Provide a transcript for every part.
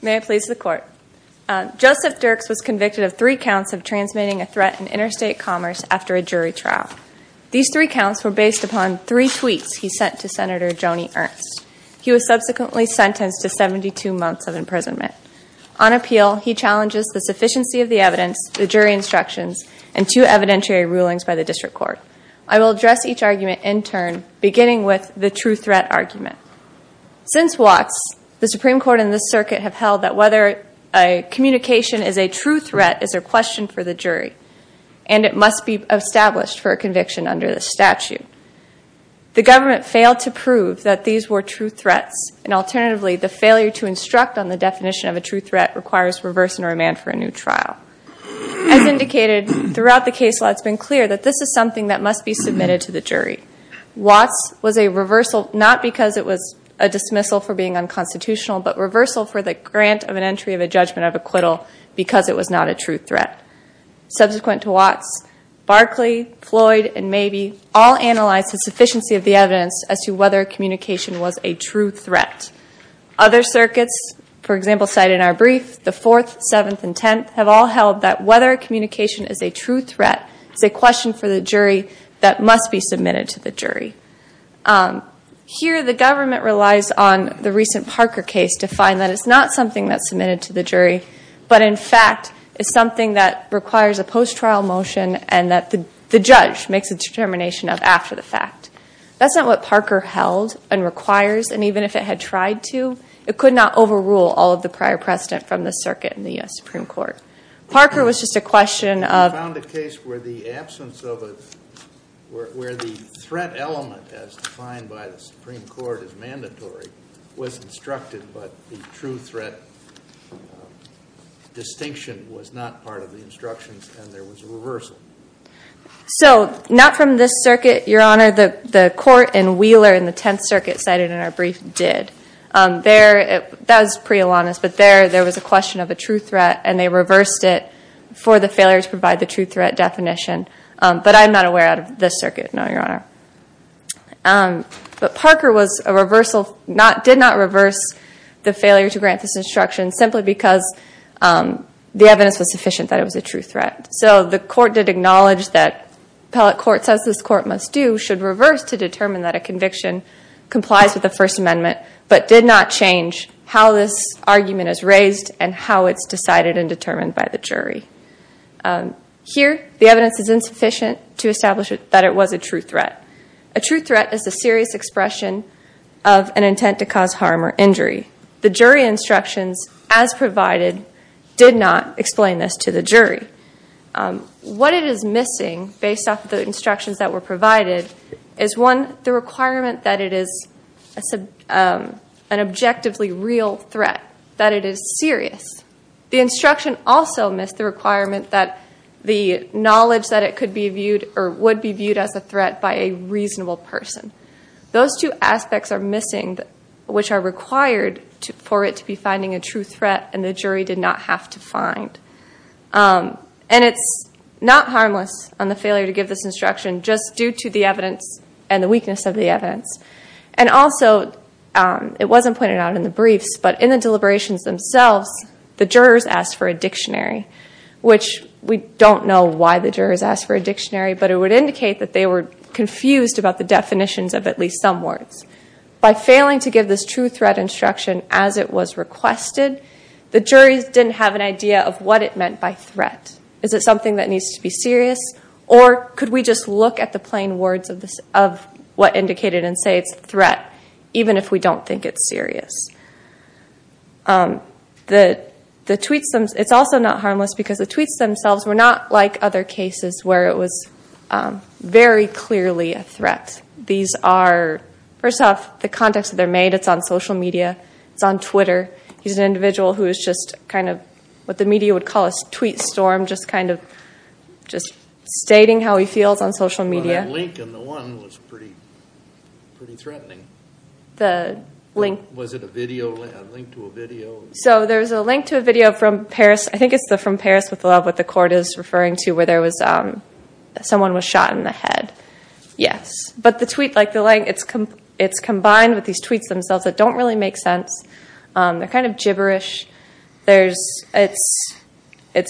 Joseph Dierks was convicted of three counts of transmitting a threat in interstate commerce after a jury trial. These three counts were based upon three tweets he sent to Senator Joni Ernst. He was subsequently sentenced to 72 months of imprisonment. On appeal, he challenges the sufficiency of the evidence, the jury instructions, and two evidentiary rulings by the District Court. I will address each argument in turn, beginning with the true threat argument. Since Watts, the Supreme Court and the circuit have held that whether a communication is a true threat is a question for the jury, and it must be established for a conviction under the statute. The government failed to prove that these were true threats, and alternatively, the failure to instruct on the definition of a true threat requires reverse and remand for a new trial. As indicated throughout the case law, it's been clear that this is something that must be submitted to the jury. Watts was a reversal, not because it was a dismissal for being unconstitutional, but reversal for the grant of an entry of a judgment of acquittal because it was not a true threat. Subsequent to Watts, Barkley, Floyd, and Mabee all analyzed the sufficiency of the evidence as to whether communication was a true threat. Other circuits, for example, cited in our brief, the Fourth, Seventh, and Tenth, have all held that whether communication is a true threat is a question for the jury that must be submitted to the jury. Here, the government relies on the recent Parker case to find that it's not something that's submitted to the jury, but in fact is something that requires a post-trial motion and that the judge makes a determination of after the fact. That's not what Parker held and requires, and even if it had tried to, it could not overrule all of the prior precedent from the circuit in the U.S. Supreme Court. Parker was just a question of- We found a case where the threat element, as defined by the Supreme Court as mandatory, was instructed, but the true threat distinction was not part of the instructions and there was a reversal. So, not from this circuit, Your Honor. The court in Wheeler in the Tenth Circuit cited in our brief did. That was pre-Alanis, but there was a question of a true threat and they reversed it for the failure to provide the true threat definition, but I'm not aware out of this circuit, no, Your Honor. But Parker did not reverse the failure to grant this instruction simply because the evidence was sufficient that it was a true threat. So, the court did acknowledge that appellate court says this court must do, should reverse to determine that a conviction complies with the First Amendment, but did not change how this argument is raised and how it's decided and determined by the jury. Here, the evidence is insufficient to establish that it was a true threat. A true threat is a serious expression of an intent to cause harm or injury. The jury instructions, as provided, did not explain this to the jury. What it is missing, based off the instructions that were provided, is one, the requirement that it is an objectively real threat, that it is serious. The instruction also missed the requirement that the knowledge that it could be viewed or would be viewed as a threat by a reasonable person. Those two aspects are missing, which are required for it to be finding a true threat, and the jury did not have to find. And it's not harmless on the failure to give this instruction, just due to the evidence and the weakness of the evidence. And also, it wasn't pointed out in the briefs, but in the deliberations themselves, the jurors asked for a dictionary, which we don't know why the jurors asked for a dictionary, but it would indicate that they were confused about the definitions of at least some words. By failing to give this true threat instruction as it was requested, the juries didn't have an idea of what it meant by threat. Is it something that needs to be serious, or could we just look at the plain words of what indicated and say it's a threat, even if we don't think it's serious? It's also not harmless because the tweets themselves were not like other cases where it was very clearly a threat. First off, the context that they're made, it's on social media. It's on Twitter. He's an individual who is just kind of what the media would call a tweet storm, just stating how he feels on social media. Well, that link in the one was pretty threatening. The link? Was it a link to a video? So there's a link to a video from Paris. I think it's from Paris with Love, what the court is referring to, where someone was shot in the head. Yes. But the tweet, it's combined with these tweets themselves that don't really make sense. They're kind of gibberish. It's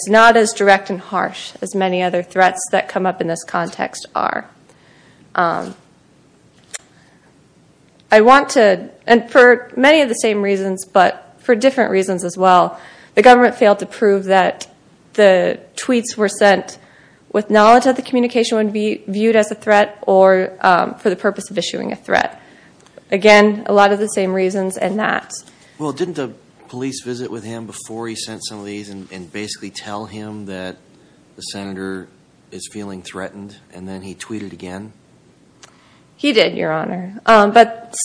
not as direct and harsh as many other threats that come up in this context are. I want to, and for many of the same reasons, but for different reasons as well, the government failed to prove that the tweets were sent with knowledge that the communication would be viewed as a threat or for the purpose of issuing a threat. Again, a lot of the same reasons and that. Well, didn't the police visit with him before he sent some of these and basically tell him that the senator is feeling threatened? And then he tweeted again? He did, Your Honor. But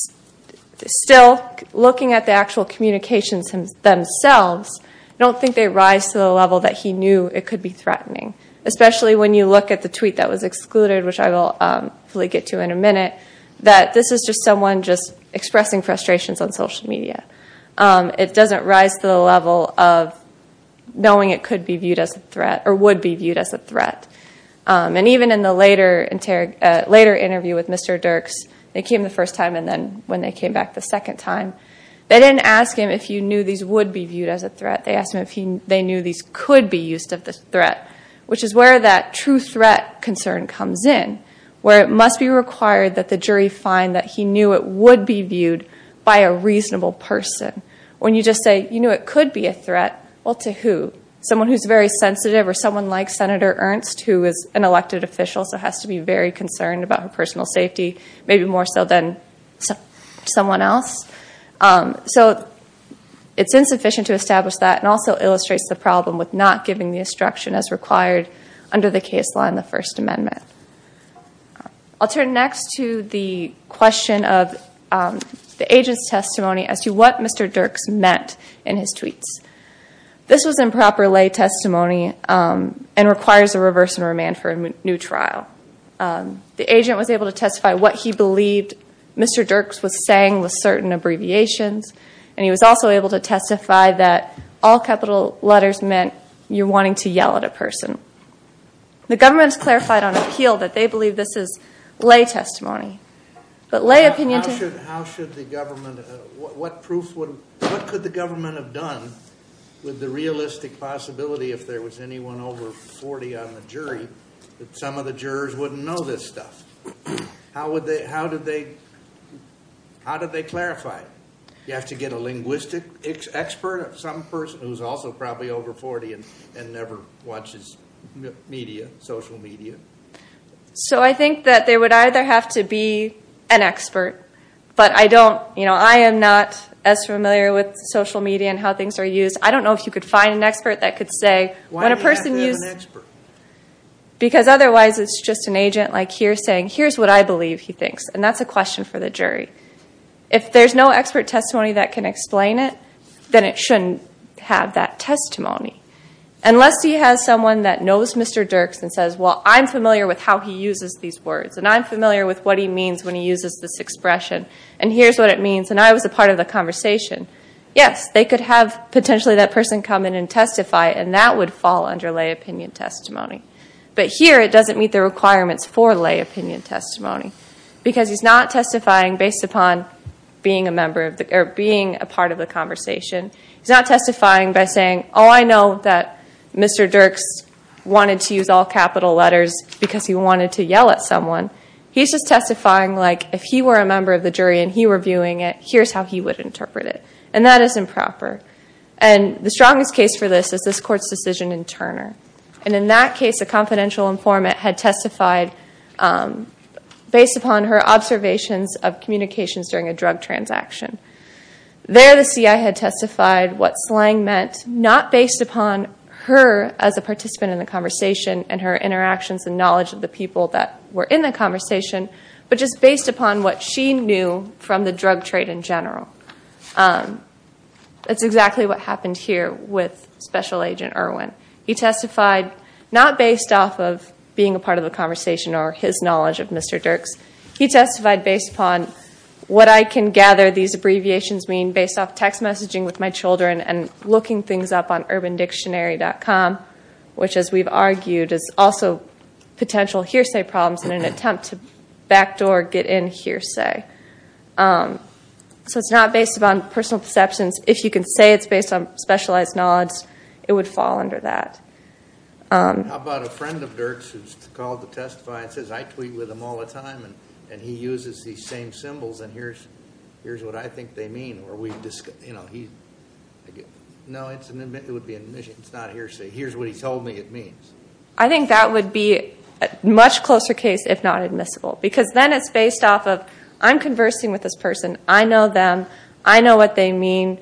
still, looking at the actual communications themselves, I don't think they rise to the level that he knew it could be threatening, especially when you look at the tweet that was excluded, which I will hopefully get to in a minute, that this is just someone just expressing frustrations on social media. It doesn't rise to the level of knowing it could be viewed as a threat or would be viewed as a threat. And even in the later interview with Mr. Dirks, they came the first time and then when they came back the second time, they didn't ask him if he knew these would be viewed as a threat. They asked him if they knew these could be used as a threat, which is where that true threat concern comes in, where it must be required that the jury find that he knew it would be viewed by a reasonable person. When you just say, you know, it could be a threat, well, to who? Someone who's very sensitive or someone like Senator Ernst, who is an elected official, so has to be very concerned about her personal safety, maybe more so than someone else. So it's insufficient to establish that and also illustrates the problem with not giving the instruction as required under the case law in the First Amendment. I'll turn next to the question of the agent's testimony as to what Mr. Dirks meant in his tweets. This was improper lay testimony and requires a reverse and remand for a new trial. The agent was able to testify what he believed Mr. Dirks was saying with certain abbreviations, and he was also able to testify that all capital letters meant you're wanting to yell at a person. The government has clarified on appeal that they believe this is lay testimony. How should the government, what could the government have done with the realistic possibility, if there was anyone over 40 on the jury, that some of the jurors wouldn't know this stuff? How did they clarify it? You have to get a linguistic expert, some person who's also probably over 40 and never watches media, social media? So I think that they would either have to be an expert, but I don't, you know, I am not as familiar with social media and how things are used. I don't know if you could find an expert that could say when a person uses... Why do you have to have an expert? Because otherwise it's just an agent like here saying, here's what I believe he thinks, and that's a question for the jury. If there's no expert testimony that can explain it, then it shouldn't have that testimony. Unless he has someone that knows Mr. Dirks and says, well, I'm familiar with how he uses these words, and I'm familiar with what he means when he uses this expression, and here's what it means, and I was a part of the conversation. Yes, they could have potentially that person come in and testify, and that would fall under lay opinion testimony. But here it doesn't meet the requirements for lay opinion testimony, because he's not testifying based upon being a part of the conversation. He's not testifying by saying, oh, I know that Mr. Dirks wanted to use all capital letters because he wanted to yell at someone. He's just testifying like if he were a member of the jury and he were viewing it, here's how he would interpret it. And that is improper. And the strongest case for this is this Court's decision in Turner. And in that case, a confidential informant had testified based upon her observations of communications during a drug transaction. There the CI had testified what slang meant not based upon her as a participant in the conversation and her interactions and knowledge of the people that were in the conversation, but just based upon what she knew from the drug trade in general. That's exactly what happened here with Special Agent Irwin. He testified not based off of being a part of the conversation or his knowledge of Mr. Dirks. He testified based upon what I can gather these abbreviations mean based off text messaging with my children and looking things up on UrbanDictionary.com, which as we've argued is also potential hearsay problems in an attempt to backdoor get in hearsay. So it's not based upon personal perceptions. If you can say it's based on specialized knowledge, it would fall under that. How about a friend of Dirks who's called to testify and says, I tweet with him all the time and he uses these same symbols and here's what I think they mean. No, it would be an admission. It's not a hearsay. Here's what he told me it means. I think that would be a much closer case if not admissible because then it's based off of I'm conversing with this person. I know them. I know what they mean.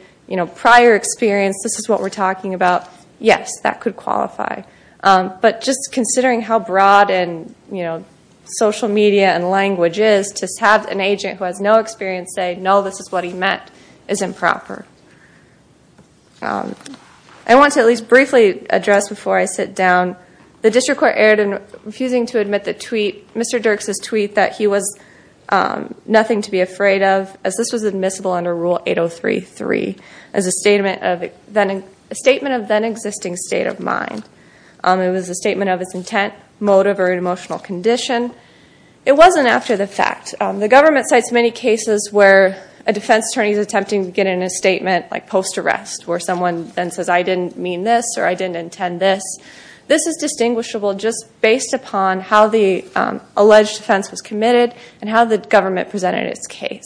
Prior experience, this is what we're talking about. Yes, that could qualify. But just considering how broad social media and language is to have an agent who has no experience say, no, this is what he meant, is improper. I want to at least briefly address before I sit down. The district court erred in refusing to admit the tweet, Mr. Dirks' tweet, that he was nothing to be afraid of as this was admissible under Rule 8033. It was a statement of then existing state of mind. It was a statement of its intent, motive, or emotional condition. It wasn't after the fact. The government cites many cases where a defense attorney is attempting to get in a statement like post-arrest where someone then says, I didn't mean this or I didn't intend this. This is distinguishable just based upon how the alleged offense was committed and how the government presented its case.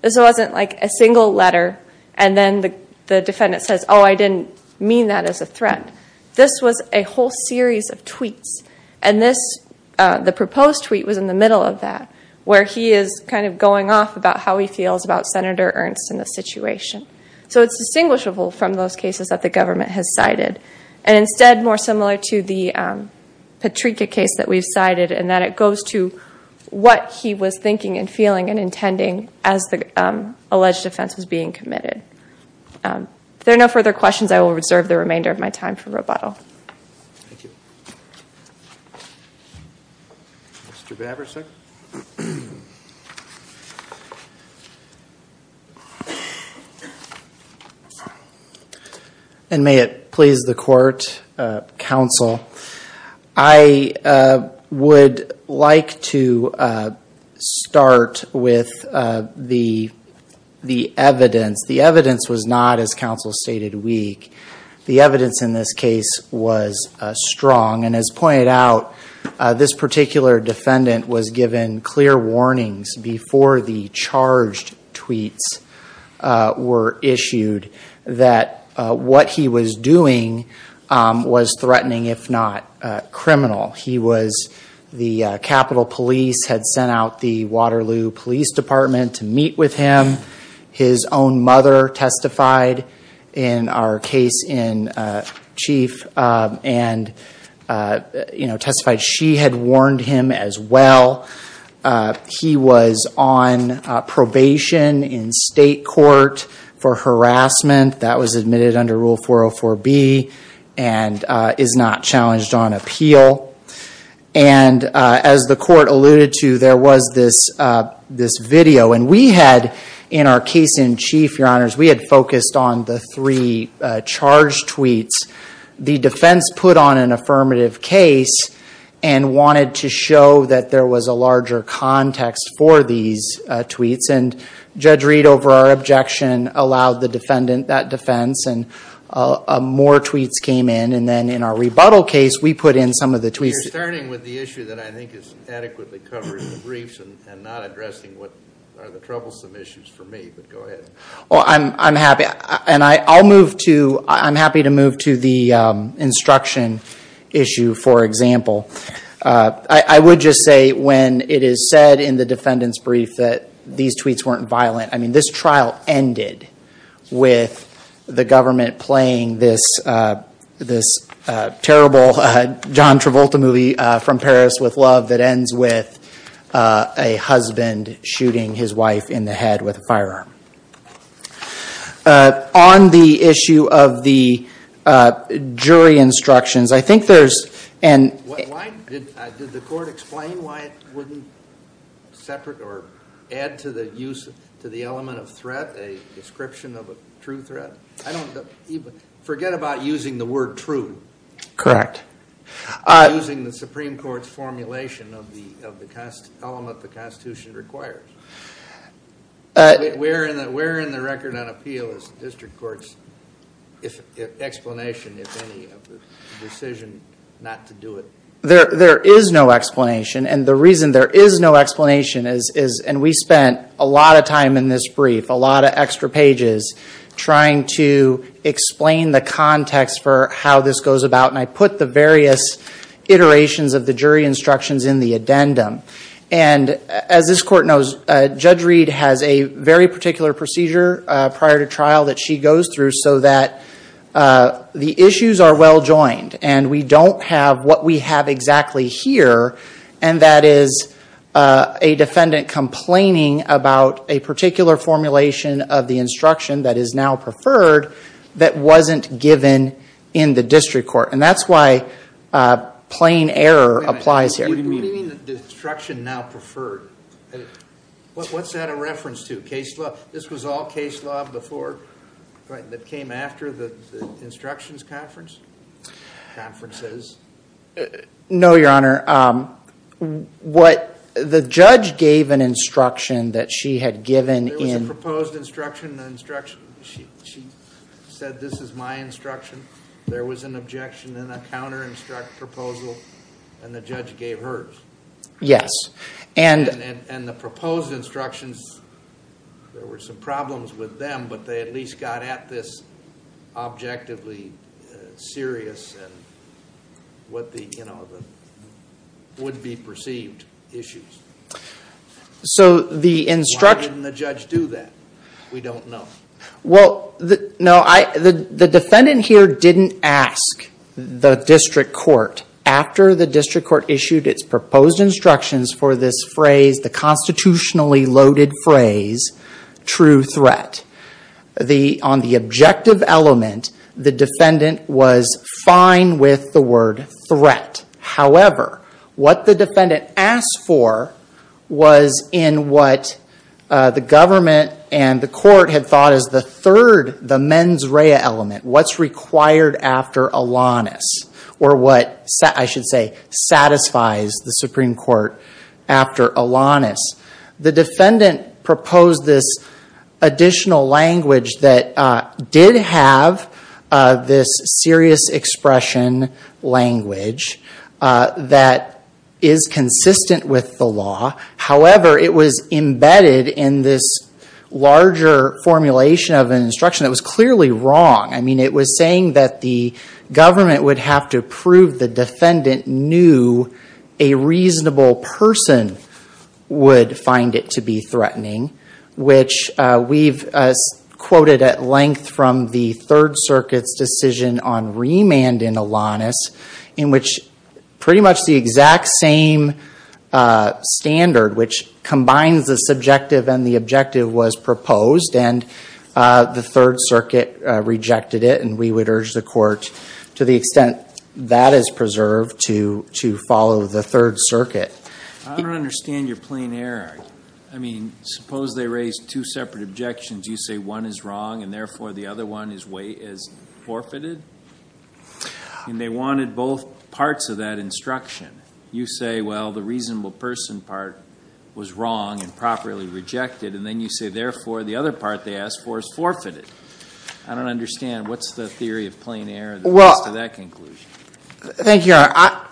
This wasn't like a single letter and then the defendant says, oh, I didn't mean that as a threat. This was a whole series of tweets, and the proposed tweet was in the middle of that where he is kind of going off about how he feels about Senator Ernst and the situation. So it's distinguishable from those cases that the government has cited and instead more similar to the Patrika case that we've cited and that it goes to what he was thinking and feeling and intending as the alleged offense was being committed. If there are no further questions, I will reserve the remainder of my time for rebuttal. Thank you. Mr. Baburch, sir. And may it please the court, counsel. I would like to start with the evidence. The evidence was not, as counsel stated, weak. The evidence in this case was strong, and as pointed out, this particular defendant was given clear warnings before the charged tweets were issued that what he was doing was threatening, if not criminal. He was, the Capitol Police had sent out the Waterloo Police Department to meet with him. His own mother testified in our case in chief and testified. She had warned him as well. He was on probation in state court for harassment. That was admitted under Rule 404B and is not challenged on appeal. And as the court alluded to, there was this video. And we had, in our case in chief, your honors, we had focused on the three charged tweets. The defense put on an affirmative case and wanted to show that there was a larger context for these tweets. And Judge Reed, over our objection, allowed the defendant that defense. And more tweets came in. And then in our rebuttal case, we put in some of the tweets. You're starting with the issue that I think is adequately covering the briefs and not addressing what are the troublesome issues for me. But go ahead. Well, I'm happy. And I'll move to, I'm happy to move to the instruction issue, for example. I would just say when it is said in the defendant's brief that these tweets weren't violent, I mean, this trial ended with the government playing this terrible John Travolta movie from Paris with Love that ends with a husband shooting his wife in the head with a firearm. On the issue of the jury instructions, I think there's an ‑‑ Why, did the court explain why it wouldn't separate or add to the use, to the element of threat, a description of a true threat? I don't even, forget about using the word true. Correct. Using the Supreme Court's formulation of the element the Constitution requires. Where in the record on appeal is the district court's explanation, if any, of the decision not to do it? There is no explanation. And the reason there is no explanation is, and we spent a lot of time in this brief, a lot of extra pages trying to explain the context for how this goes about. And I put the various iterations of the jury instructions in the addendum. And as this court knows, Judge Reed has a very particular procedure prior to trial that she goes through so that the issues are well joined and we don't have what we have exactly here, and that is a defendant complaining about a particular formulation of the instruction that is now preferred that wasn't given in the district court. And that's why plain error applies here. Wait a minute. What do you mean the instruction now preferred? What's that a reference to? Case law? This was all case law before that came after the instructions conference? Conferences? No, Your Honor. The judge gave an instruction that she had given in. There was a proposed instruction. She said this is my instruction. There was an objection in a counter-instruct proposal, and the judge gave hers. Yes. And the proposed instructions, there were some problems with them, but they at least got at this objectively serious and what the, you know, would-be-perceived issues. So the instruction. Why didn't the judge do that? We don't know. Well, no, the defendant here didn't ask the district court after the district court issued its proposed instructions for this phrase, the constitutionally loaded phrase, true threat. On the objective element, the defendant was fine with the word threat. However, what the defendant asked for was in what the government and the court had thought is the third, the mens rea element, what's required after Alanis, or what, I should say, satisfies the Supreme Court after Alanis. The defendant proposed this additional language that did have this serious expression language that is consistent with the law. However, it was embedded in this larger formulation of an instruction that was clearly wrong. I mean, it was saying that the government would have to prove the defendant knew a reasonable person would find it to be threatening, which we've quoted at length from the Third Circuit's decision on remand in Alanis, in which pretty much the exact same standard, which combines the subjective and the objective, was proposed, and the Third Circuit rejected it, and we would urge the court, to the extent that is preserved, to follow the Third Circuit. I don't understand your plain error. I mean, suppose they raised two separate objections. You say one is wrong, and therefore the other one is forfeited, and they wanted both parts of that instruction. You say, well, the reasonable person part was wrong and properly rejected, and then you say, therefore, the other part they asked for is forfeited. I don't understand. What's the theory of plain error that leads to that conclusion? Thank you, Your Honor.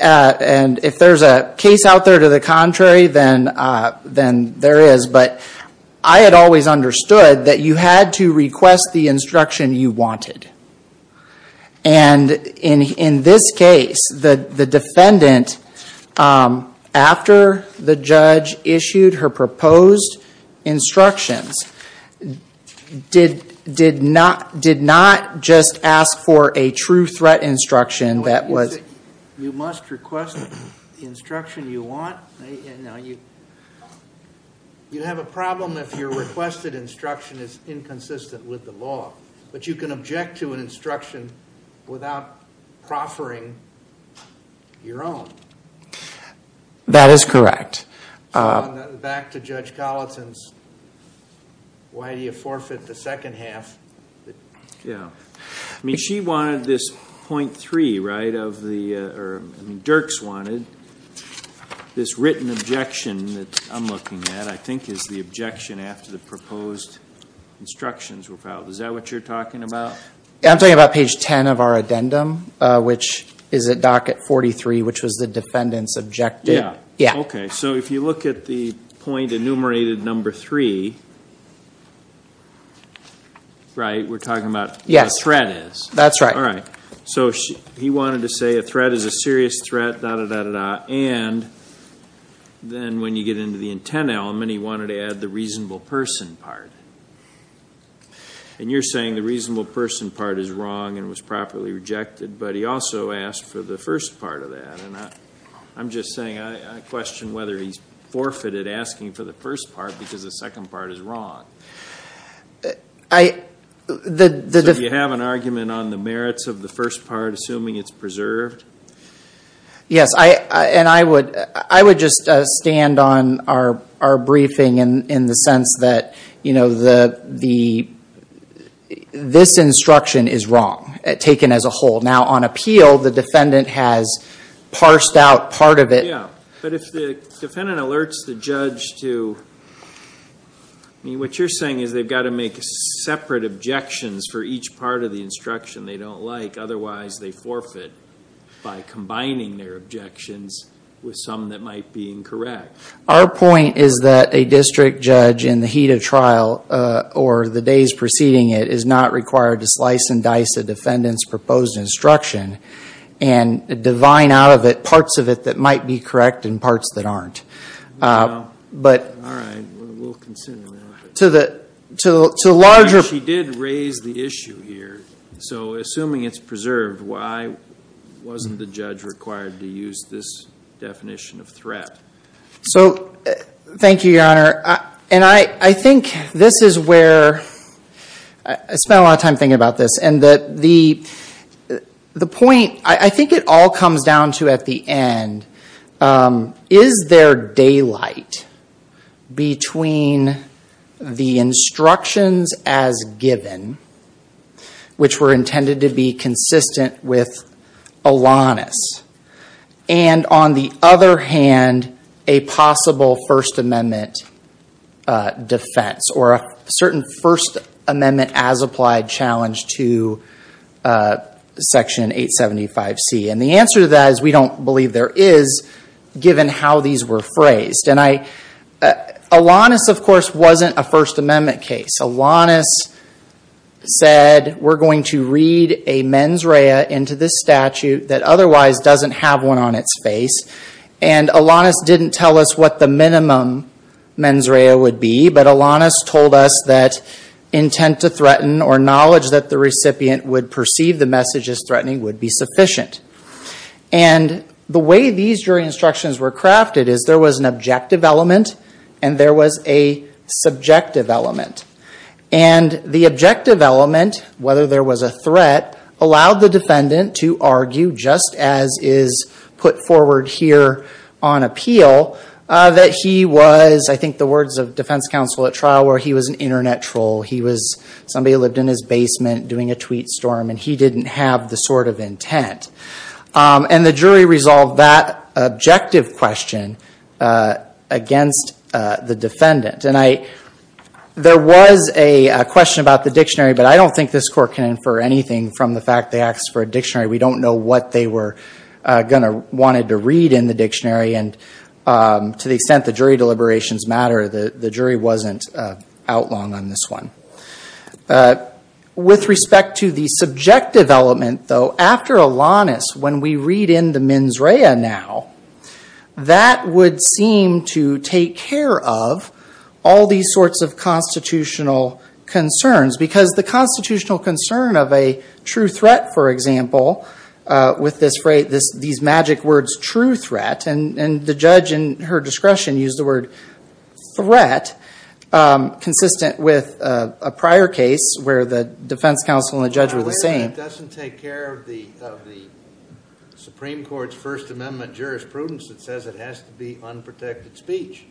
And if there's a case out there to the contrary, then there is. But I had always understood that you had to request the instruction you wanted. And in this case, the defendant, after the judge issued her proposed instructions, did not just ask for a true threat instruction that was You must request the instruction you want. Now, you have a problem if your requested instruction is inconsistent with the law, but you can object to an instruction without proffering your own. That is correct. Back to Judge Colleton's, why do you forfeit the second half? Yeah. I mean, she wanted this .3, right? I mean, Dirks wanted this written objection that I'm looking at, I think is the objection after the proposed instructions were filed. Is that what you're talking about? I'm talking about page 10 of our addendum, which is at docket 43, which was the defendant's objective. Yeah. Okay. So if you look at the point enumerated, number 3, right? We're talking about what a threat is. That's right. All right. So he wanted to say a threat is a serious threat, da-da-da-da-da, and then when you get into the intent element, he wanted to add the reasonable person part. And you're saying the reasonable person part is wrong and was properly rejected, but he also asked for the first part of that. And I'm just saying I question whether he's forfeited asking for the first part because the second part is wrong. So do you have an argument on the merits of the first part, assuming it's preserved? Yes. And I would just stand on our briefing in the sense that this instruction is wrong, taken as a whole. Now, on appeal, the defendant has parsed out part of it. Yeah. But if the defendant alerts the judge to, I mean, what you're saying is they've got to make separate objections for each part of the instruction they don't like, otherwise they forfeit by combining their objections with some that might be incorrect. Our point is that a district judge in the heat of trial or the days preceding it is not required to slice and dice a defendant's proposed instruction and divine out of it parts of it that might be correct and parts that aren't. All right. We'll consider that. She did raise the issue here. So assuming it's preserved, why wasn't the judge required to use this definition of threat? So thank you, Your Honor. And I think this is where I spent a lot of time thinking about this. And the point I think it all comes down to at the end, is there daylight between the instructions as given, which were intended to be consistent with Alanis, and on the other hand, a possible First Amendment defense or a certain First Amendment as applied challenge to Section 875C. And the answer to that is we don't believe there is, given how these were phrased. Alanis, of course, wasn't a First Amendment case. Alanis said, we're going to read a mens rea into this statute that otherwise doesn't have one on its face. And Alanis didn't tell us what the minimum mens rea would be, but Alanis told us that intent to threaten or knowledge that the recipient would perceive the message as threatening would be sufficient. And the way these jury instructions were crafted is there was an objective element and there was a subjective element. And the objective element, whether there was a threat, allowed the defendant to argue, just as is put forward here on appeal, that he was, I think the words of defense counsel at trial were, he was an internet troll. He was somebody who lived in his basement doing a tweet storm, and he didn't have the sort of intent. And the jury resolved that objective question against the defendant. And there was a question about the dictionary, but I don't think this court can infer anything from the fact they asked for a dictionary. We don't know what they wanted to read in the dictionary. And to the extent the jury deliberations matter, the jury wasn't out long on this one. With respect to the subjective element, though, after Alanis, when we read in the mens rea now, that would seem to take care of all these sorts of constitutional concerns, because the constitutional concern of a true threat, for example, with these magic words, true threat. And the judge in her discretion used the word threat, consistent with a prior case where the defense counsel and the judge were the same. I'm aware that doesn't take care of the Supreme Court's First Amendment jurisprudence that says it has to be unprotected speech.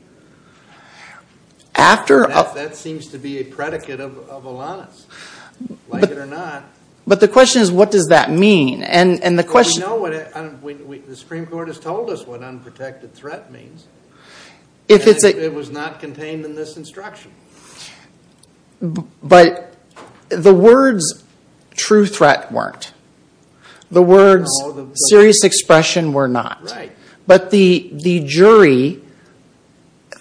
That seems to be a predicate of Alanis, like it or not. But the question is, what does that mean? The Supreme Court has told us what unprotected threat means. It was not contained in this instruction. But the words true threat weren't. The words serious expression were not. But the jury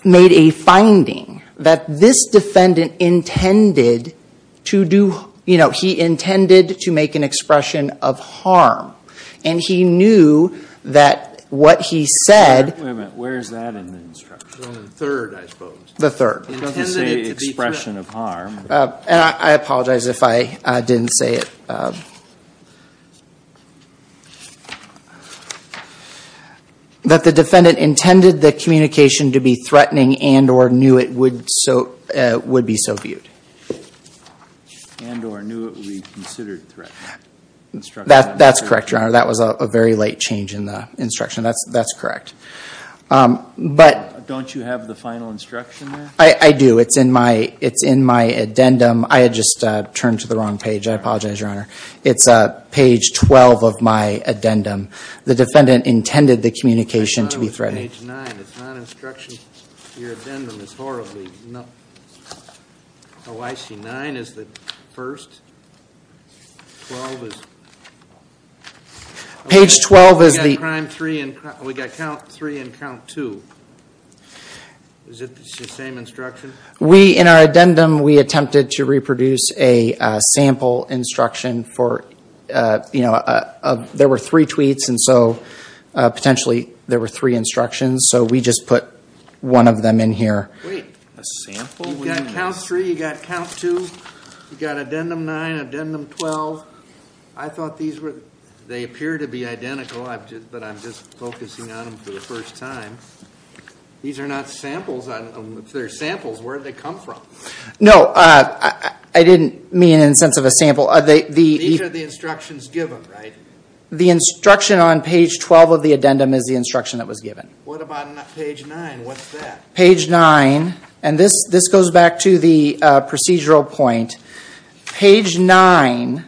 made a finding that this defendant intended to do, he intended to make an expression of harm. And he knew that what he said. Wait a minute. Where is that in the instruction? The third, I suppose. The third. He doesn't say expression of harm. And I apologize if I didn't say it. That the defendant intended the communication to be threatening and or knew it would be so viewed. And or knew it would be considered threat. That's correct, Your Honor. That was a very late change in the instruction. That's correct. But. Don't you have the final instruction there? I do. It's in my addendum. I had just turned to the wrong page. I apologize, Your Honor. It's page 12 of my addendum. The defendant intended the communication to be threatening. Page 9. It's not instruction. Your addendum is horribly. Oh, I see. 9 is the first. 12 is. Page 12 is the. We got count 3 and count 2. Is it the same instruction? We, in our addendum, we attempted to reproduce a sample instruction for, you know, there were three tweets. And so, potentially, there were three instructions. So we just put one of them in here. Wait. A sample? You've got count 3. You've got count 2. You've got addendum 9, addendum 12. I thought these were, they appear to be identical. But I'm just focusing on them for the first time. These are not samples. If they're samples, where did they come from? No, I didn't mean in the sense of a sample. The instruction on page 12 of the addendum is the instruction that was given. What about page 9? What's that? Page 9. And this goes back to the procedural point. Page 9.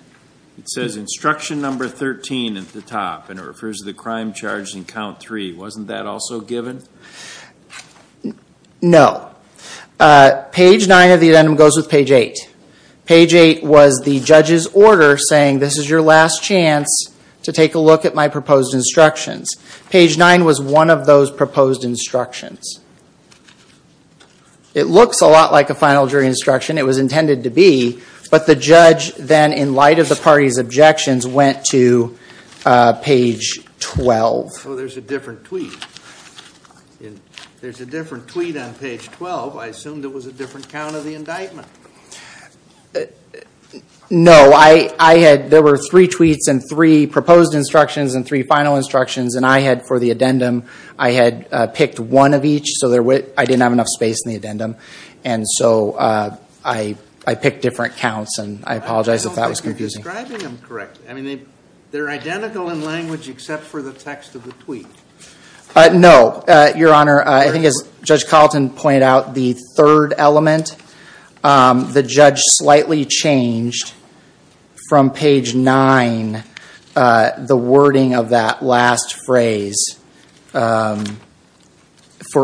It says instruction number 13 at the top. And it refers to the crime charged in count 3. Wasn't that also given? No. Page 9 of the addendum goes with page 8. Page 8 was the judge's order saying this is your last chance to take a look at my proposed instructions. Page 9 was one of those proposed instructions. It looks a lot like a final jury instruction. It was intended to be. But the judge then, in light of the party's objections, went to page 12. So there's a different tweet. There's a different tweet on page 12. I assumed it was a different count of the indictment. No. There were three tweets and three proposed instructions and three final instructions. And for the addendum, I had picked one of each. So I didn't have enough space in the addendum. And so I picked different counts. And I apologize if that was confusing. I don't think you're describing them correctly. They're identical in language except for the text of the tweet. No, Your Honor. I think as Judge Carlton pointed out, the third element, the judge slightly changed from page 9, the wording of that last phrase for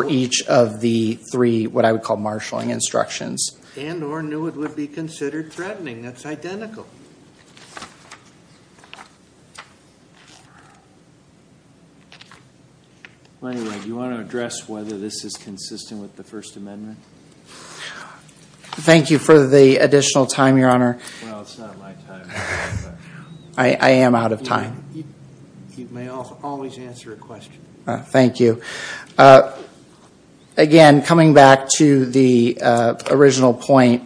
each of the three what I would call marshalling instructions. And or knew it would be considered threatening. That's identical. Well, anyway, do you want to address whether this is consistent with the First Amendment? Thank you for the additional time, Your Honor. Well, it's not my time. I am out of time. You may always answer a question. Thank you. Again, coming back to the original point,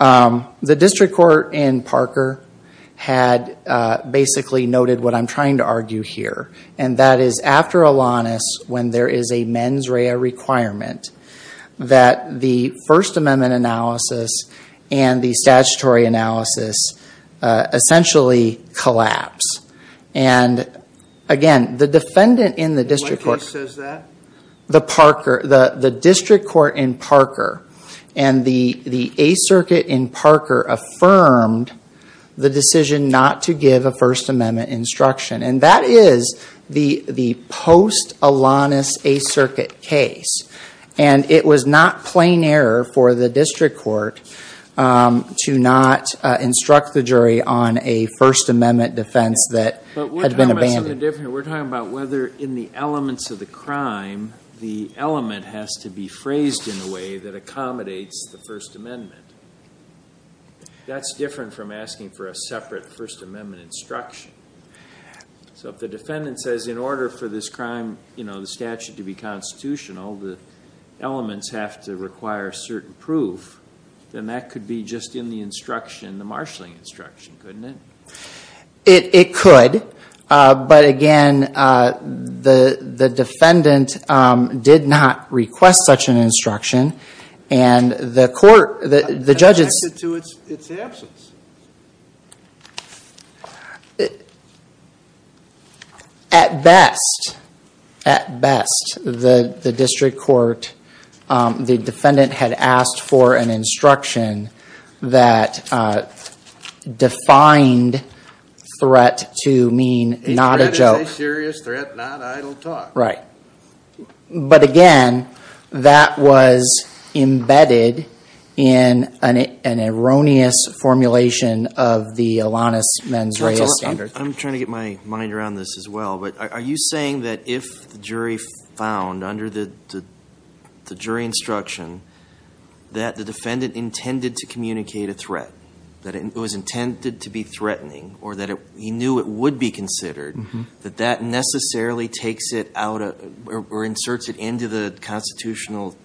the district court in Parker had basically noted what I'm trying to argue here. And that is after Alanis, when there is a mens rea requirement, that the First Amendment analysis and the statutory analysis essentially collapse. And again, the defendant in the district court. What case says that? The district court in Parker and the Eighth Circuit in Parker affirmed the decision not to give a First Amendment instruction. And that is the post-Alanis Eighth Circuit case. And it was not plain error for the district court to not instruct the jury on a First Amendment defense that had been abandoned. We're talking about whether in the elements of the crime, the element has to be phrased in a way that accommodates the First Amendment. That's different from asking for a separate First Amendment instruction. So if the defendant says in order for this crime, you know, the statute to be constitutional, the elements have to require certain proof, then that could be just in the instruction, the marshaling instruction, couldn't it? It could. But again, the defendant did not request such an instruction. And the court, the judges. It's the absence. At best, at best, the district court, the defendant had asked for an instruction that defined threat to mean not a joke. A threat is a serious threat, not idle talk. Right. But again, that was embedded in an erroneous formulation of the Alanis Mens Reis standard. I'm trying to get my mind around this as well. But are you saying that if the jury found under the jury instruction that the defendant intended to communicate a threat, that it was intended to be threatening or that he knew it would be considered, that that necessarily takes it out or inserts it into the constitutional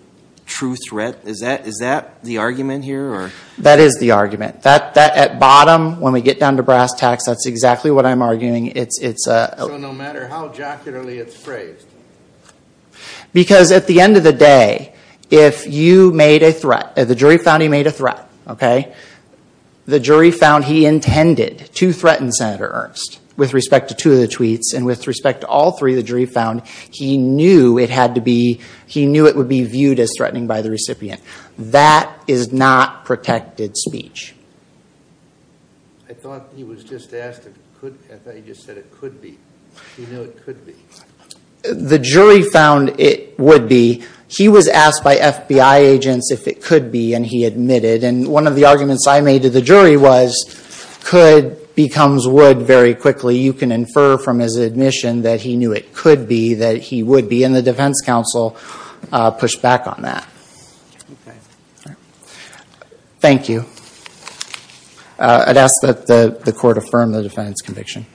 true threat? Is that the argument here? That is the argument. At bottom, when we get down to brass tacks, that's exactly what I'm arguing. So no matter how jocularly it's phrased. Because at the end of the day, if you made a threat, if the jury found he made a threat, the jury found he intended to threaten Senator Ernst with respect to two of the tweets and with respect to all three, the jury found he knew it would be viewed as threatening by the recipient. That is not protected speech. I thought he was just asked if it could. I thought he just said it could be. He knew it could be. The jury found it would be. He was asked by FBI agents if it could be, and he admitted. And one of the arguments I made to the jury was could becomes would very quickly. You can infer from his admission that he knew it could be, that he would be, and the defense counsel pushed back on that. Okay. Thank you. I'd ask that the court affirm the defendant's conviction.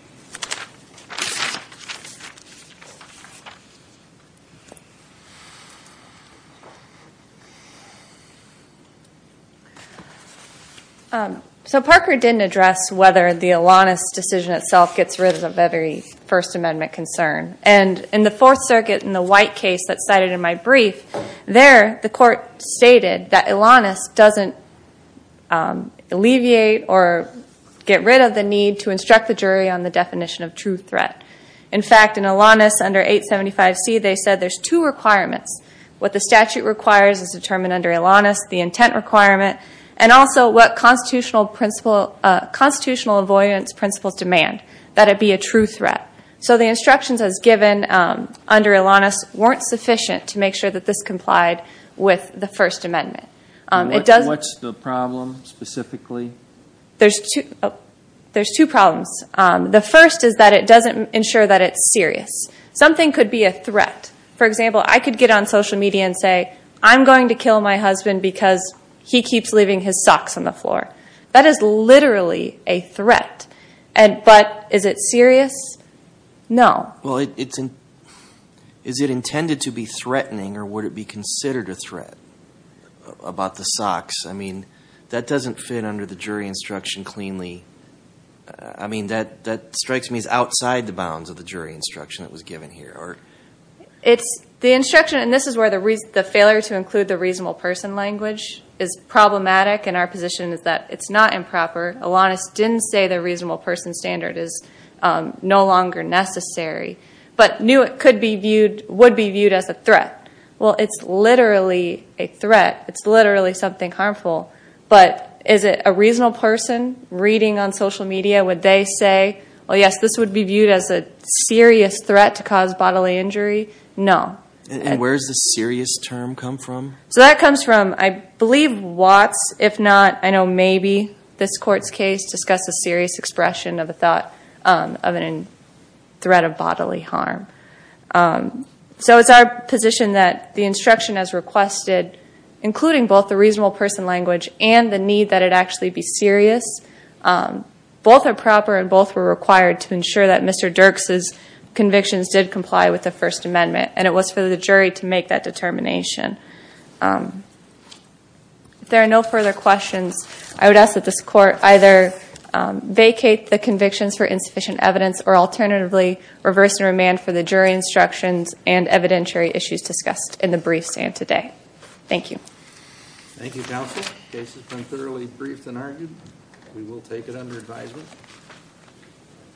So Parker didn't address whether the Alanis decision itself gets rid of every First Amendment concern. And in the Fourth Circuit in the White case that's cited in my brief, there the court stated that Alanis doesn't alleviate or get rid of the need to instruct the jury on the definition of true threat. In fact, in Alanis under 875C, they said there's two requirements. What the statute requires is determined under Alanis, the intent requirement, and also what constitutional avoidance principles demand, that it be a true threat. So the instructions as given under Alanis weren't sufficient to make sure that this complied with the First Amendment. What's the problem specifically? There's two problems. The first is that it doesn't ensure that it's serious. Something could be a threat. For example, I could get on social media and say, I'm going to kill my husband because he keeps leaving his socks on the floor. That is literally a threat. But is it serious? No. Well, is it intended to be threatening or would it be considered a threat about the socks? I mean, that doesn't fit under the jury instruction cleanly. I mean, that strikes me as outside the bounds of the jury instruction that was given here. The instruction, and this is where the failure to include the reasonable person language is problematic, and our position is that it's not improper. Alanis didn't say the reasonable person standard is no longer necessary, but knew it would be viewed as a threat. Well, it's literally a threat. It's literally something harmful. But is it a reasonable person reading on social media? Would they say, well, yes, this would be viewed as a serious threat to cause bodily injury? No. And where does the serious term come from? So that comes from, I believe, Watts. If not, I know maybe this court's case discussed a serious expression of a threat of bodily harm. So it's our position that the instruction as requested, including both the reasonable person language and the need that it actually be serious, both are proper and both were required to ensure that Mr. Dirks' convictions did comply with the First Amendment, and it was for the jury to make that determination. If there are no further questions, I would ask that this court either vacate the convictions for insufficient evidence or alternatively reverse and remand for the jury instructions and evidentiary issues discussed in the brief stand today. Thank you. Thank you, counsel. The case has been thoroughly briefed and argued. We will take it under advisement.